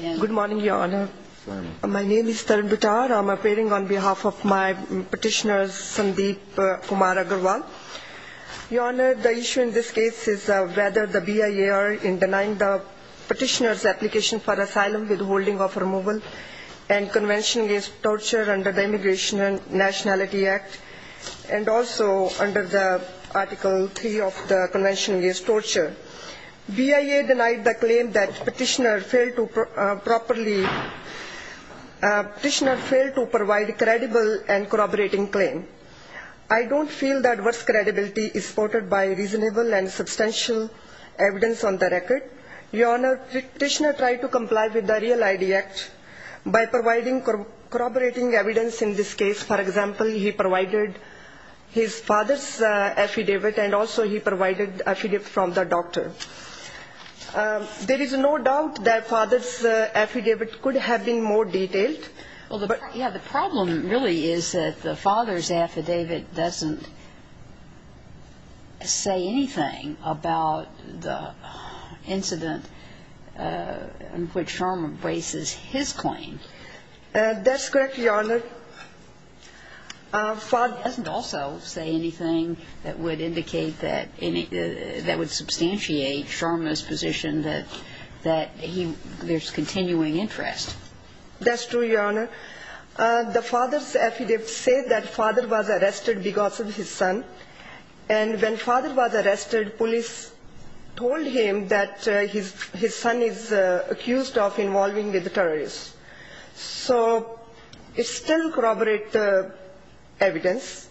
Good morning, Your Honor. My name is Tarun Bittar. I'm appearing on behalf of my petitioner, Sandeep Kumar Agarwal. Your Honor, the issue in this case is whether the BIA are in denying the petitioner's application for asylum with holding of removal and convention against torture under the Immigration and Nationality Act and also under the Article 3 of the Convention Against Torture. BIA denied the claim that petitioner failed to provide a credible and corroborating claim. I don't feel that worse credibility is supported by reasonable and substantial evidence on the record. Your Honor, petitioner tried to comply with the Real ID Act by providing corroborating evidence in this case. For example, he provided his father's affidavit and also he provided affidavit from the doctor. There is no doubt that father's affidavit could have been more detailed, but the problem really is that the father's affidavit doesn't say anything about the incident in which Charma braces his claim. That's correct, Your Honor. Father doesn't also say anything that would indicate that any that would substantiate Charma's position that that he there's continuing interest. That's true, Your Honor. The father's affidavit said that father was arrested because of his son. And when father was arrested, police told him that his his son is accused of involving with the terrorists. So it still corroborates the evidence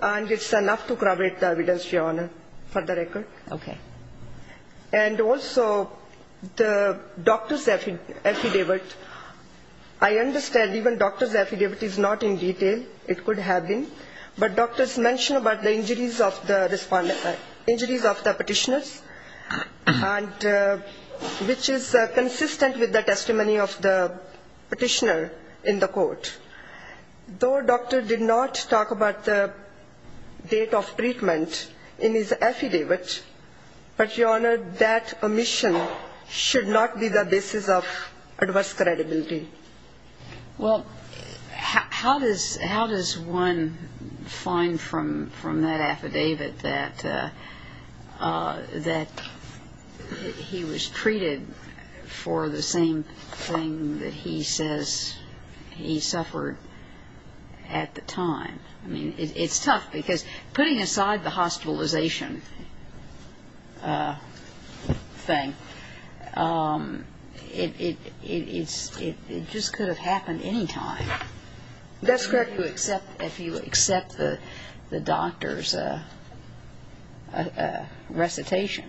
and it's enough to corroborate the evidence, Your Honor, for the record. Okay. And also the doctor's affidavit, I understand even doctor's affidavit is not in detail. It could have been. But doctors mentioned about the injuries of the petitioners and which is consistent with the testimony of the petitioner in the court. Though doctor did not talk about the date of treatment in his affidavit, but, Your Honor, that omission should not be the basis of adverse credibility. Well, how does how does one find from from that affidavit that that he was treated for the same thing that he says he suffered at the time? I mean, it's tough because putting aside the hospitalization thing, it it it's it just could have happened any time. That's correct. If you accept if you accept the doctor's recitation.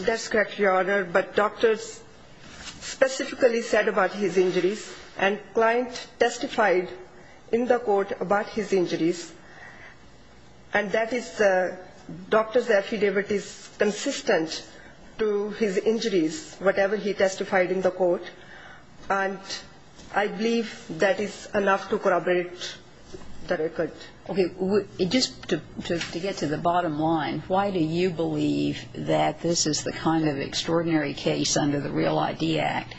That's correct, Your Honor. But doctors specifically said about his injuries and client testified in the court about his injuries. And that is the doctor's affidavit is consistent to his injuries, whatever he testified in the court. And I believe that is enough to corroborate the record. Okay. Just to get to the bottom line, why do you believe that this is the kind of extraordinary case under the Real ID Act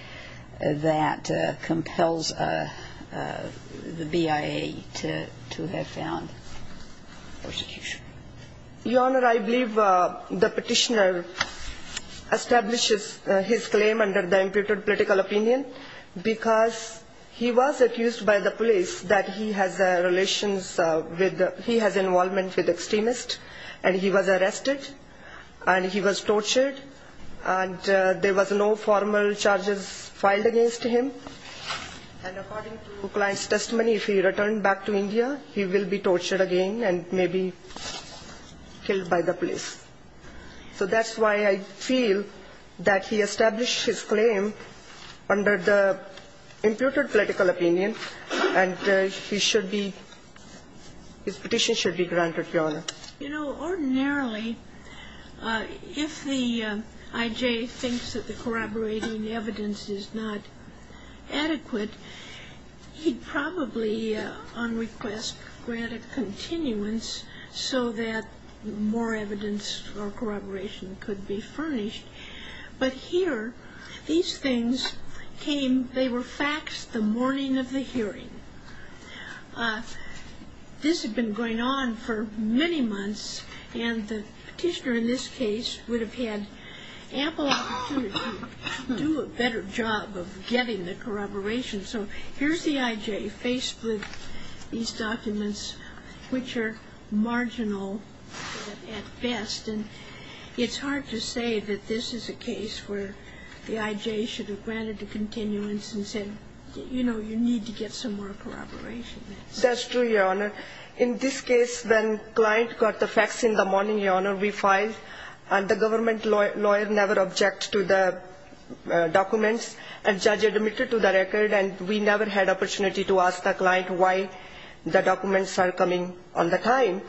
that compels the BIA to to have found persecution? Your Honor, I believe the petitioner establishes his claim under the imputed political opinion because he was accused by the police that he has relations with he has involvement with extremists and he was arrested and he was tortured and there was no formal charges filed against him. And according to the client's testimony, if he returned back to India, he will be tortured again and maybe killed by the police. So that's why I feel that he established his claim under the imputed political opinion and he should be his petition should be granted, Your Honor. You know, ordinarily, if the I.J. thinks that the corroborating evidence is not adequate, he'd probably on request granted continuance so that more evidence or corroboration could be furnished. But here, these things came, they were faxed the morning of the hearing. This had been going on for many months and the petitioner in this case would have had ample opportunity to do a better job of getting the corroboration. So here's the I.J. faced with these documents, which are marginal at best and it's hard to see how he would have said that this is a case where the I.J. should have granted the continuance and said, you know, you need to get some more corroboration. That's true, Your Honor. In this case, when the client got the fax in the morning, Your Honor, we filed and the government lawyer never objected to the documents and judge admitted to the record and we never had opportunity to ask the client why the documents are coming on the time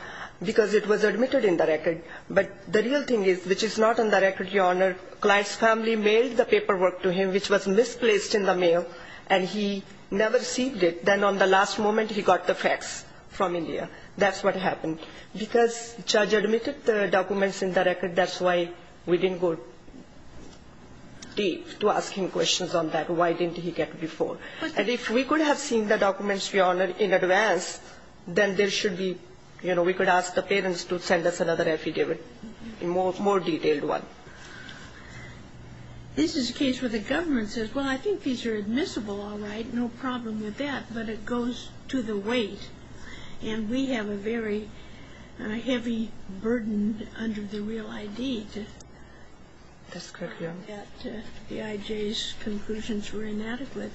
because it was admitted in the record. But the real thing is, which is not in the record, Your Honor, client's family mailed the paperwork to him, which was misplaced in the mail and he never received it. Then on the last moment, he got the fax from India. That's what happened. Because judge admitted the documents in the record, that's why we didn't go deep to ask him questions on that. Why didn't he get before? And if we could have seen the documents, Your Honor, in advance, then there should be, you know, we could ask the parents to send us another affidavit, a more detailed one. This is a case where the government says, well, I think these are admissible, all right, no problem with that, but it goes to the weight and we have a very heavy burden under the real I.D. to prove that the I.J.'s conclusions were inadequate.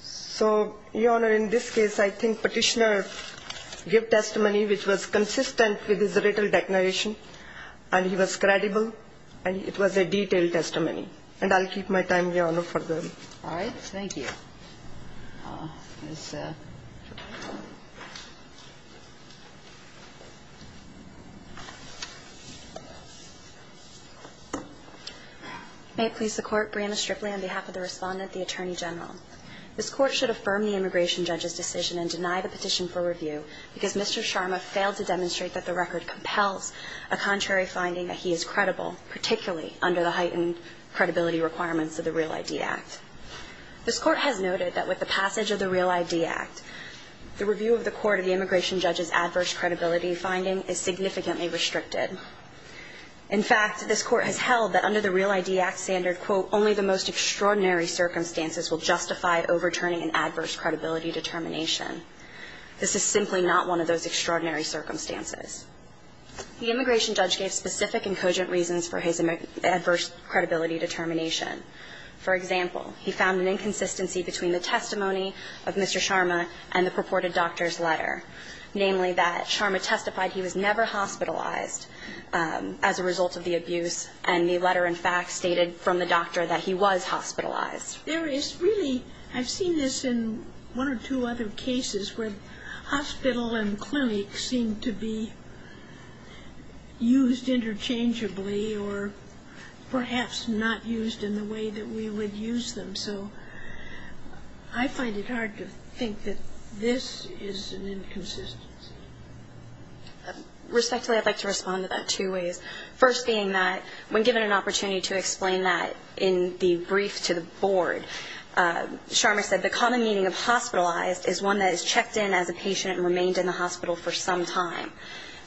So, Your Honor, in this case, I think Petitioner gave testimony which was consistent with his written declaration and he was credible and it was a detailed testimony. And I'll keep my time, Your Honor, for the rest. All right. Thank you. May it please the Court, Breanna Stripley on behalf of the Respondent, the Attorney General. This Court should affirm the immigration judge's decision and deny the petition for review because Mr. Sharma failed to demonstrate that the record compels a contrary finding that he is credible, particularly under the heightened credibility requirements of the Real I.D. Act. This Court has noted that with the passage of the Real I.D. Act, the review of the Court of the immigration judge's adverse credibility finding is significantly restricted. In fact, this Court has held that under the Real I.D. Act standard, quote, only the most extraordinary circumstances will justify overturning an adverse credibility determination. This is simply not one of those extraordinary circumstances. The immigration judge gave specific and cogent reasons for his adverse credibility determination. For example, he found an inconsistency between the testimony of Mr. Sharma and the purported doctor's letter, namely that Sharma testified he was never hospitalized as a result of the abuse and the letter, in fact, stated from the doctor that he was hospitalized. There is really, I've seen this in one or two other cases where hospital and clinics seem to be used interchangeably or perhaps not used in the way that we would use them. So I find it hard to think that this is an inconsistency. Respectfully, I'd like to respond to that two ways. First being that when given an opportunity to explain that in the brief to the board, Sharma said the common meaning of hospitalized is one that is checked in as a patient and remained in the hospital for some time.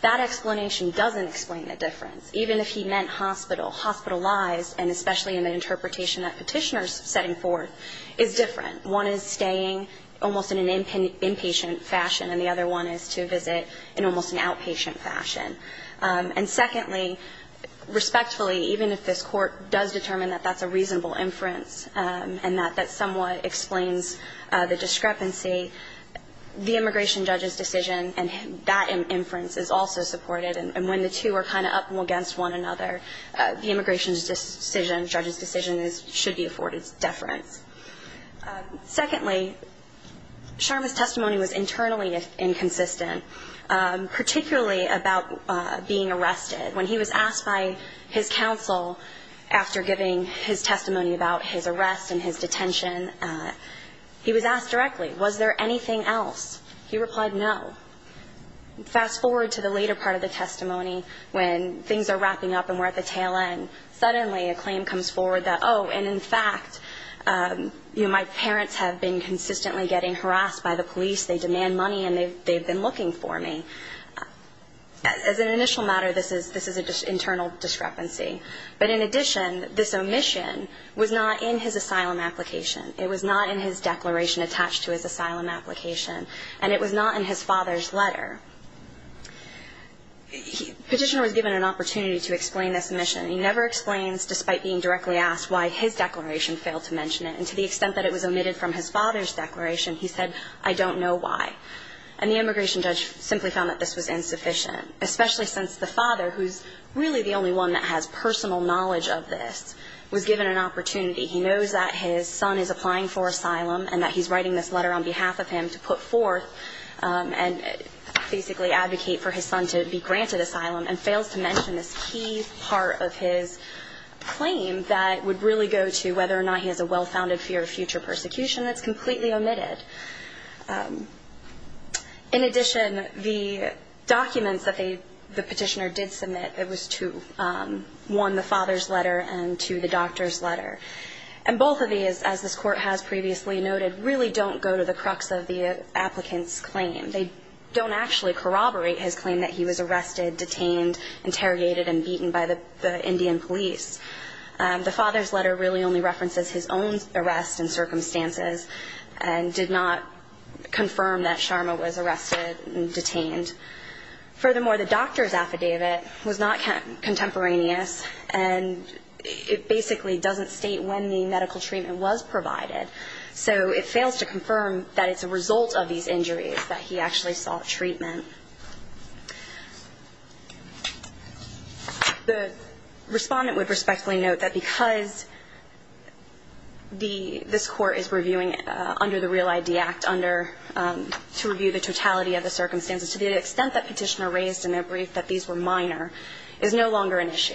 That explanation doesn't explain the difference. Even if he meant hospital, hospitalized, and especially in the interpretation that Petitioner is setting forth, is different. One is staying almost in an inpatient fashion, and the other one is to visit in almost an outpatient fashion. And secondly, respectfully, even if this Court does determine that that's a reasonable inference and that that somewhat explains the discrepancy, the immigration judge's decision and that inference is also supported. And when the two are kind of up against one another, the immigration judge's decision should be afforded deference. Secondly, Sharma's testimony was internally inconsistent, particularly about being arrested. When he was asked by his counsel after giving his testimony about his arrest and his detention, he was asked directly, was there anything else? He replied, no. Fast forward to the later part of the testimony when things are wrapping up and we're at the tail end. Suddenly a claim comes forward that, oh, and in fact, you know, my parents have been consistently getting harassed by the police. They demand money and they've been looking for me. As an initial matter, this is an internal discrepancy. But in addition, this omission was not in his asylum application. It was not in his declaration attached to his asylum application. And it was not in his father's letter. Petitioner was given an opportunity to explain this omission. He never explains, despite being directly asked, why his declaration failed to mention it. And to the extent that it was omitted from his father's declaration, he said, I don't know why. And the immigration judge simply found that this was insufficient, especially since the father, who's really the only one that has personal knowledge of this, was given an opportunity. He knows that his son is applying for asylum and that he's writing this letter on behalf of him to put forth and basically advocate for his son to be granted asylum and fails to mention this key part of his claim that would really go to whether or not he has a well-founded fear of future persecution that's completely omitted. In addition, the documents that the petitioner did submit, it was to, one, the father's letter and two, the doctor's letter. And both of these, as this Court has previously noted, really don't go to the crux of the applicant's claim. They don't actually corroborate his claim that he was arrested, detained, interrogated and beaten by the Indian police. The father's letter really only references his own arrest and circumstances and did not confirm that Sharma was arrested and detained. Furthermore, the doctor's affidavit was not contemporaneous and it basically doesn't state when the medical treatment was provided. So it fails to confirm that it's a result of these injuries that he actually sought treatment. The Respondent would respectfully note that because the – this Court is reviewing under the Real ID Act under – to review the totality of the circumstances, to the extent that petitioner raised in their brief that these were minor is no longer an issue.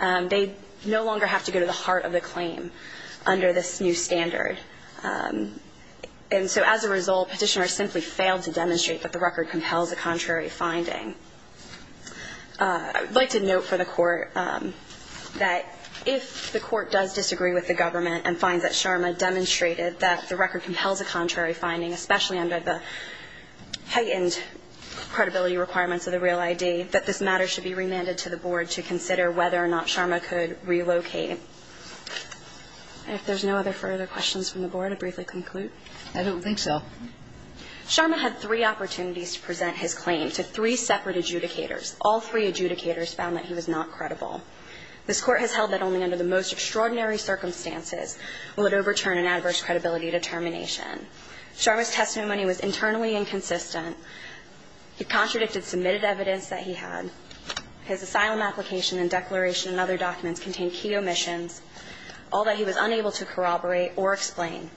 They no longer have to go to the heart of the claim under this new standard. And so as a result, petitioner simply failed to demonstrate that the record compels a contrary finding. I would like to note for the Court that if the Court does disagree with the government and finds that Sharma demonstrated that the record compels a contrary finding, especially under the heightened credibility requirements of the Real ID, that this matter should be remanded to the Board to consider whether or not Sharma could relocate. If there's no other further questions from the Board, I'll briefly conclude. I don't think so. Sharma had three opportunities to present his claim to three separate adjudicators. All three adjudicators found that he was not credible. This Court has held that only under the most extraordinary circumstances will it overturn an adverse credibility determination. Sharma's testimony was internally inconsistent. It contradicted submitted evidence that he had. His asylum application and declaration and other documents contained key omissions, all that he was unable to corroborate or explain.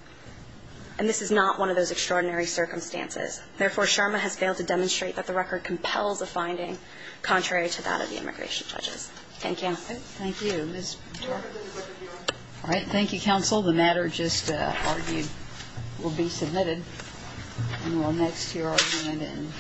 And this is not one of those extraordinary circumstances. Therefore, Sharma has failed to demonstrate that the record compels a finding contrary to that of the immigration judges. Thank you. Thank you. All right. Thank you, counsel. The matter just argued will be submitted. And we'll next hear from Amanda and Sam.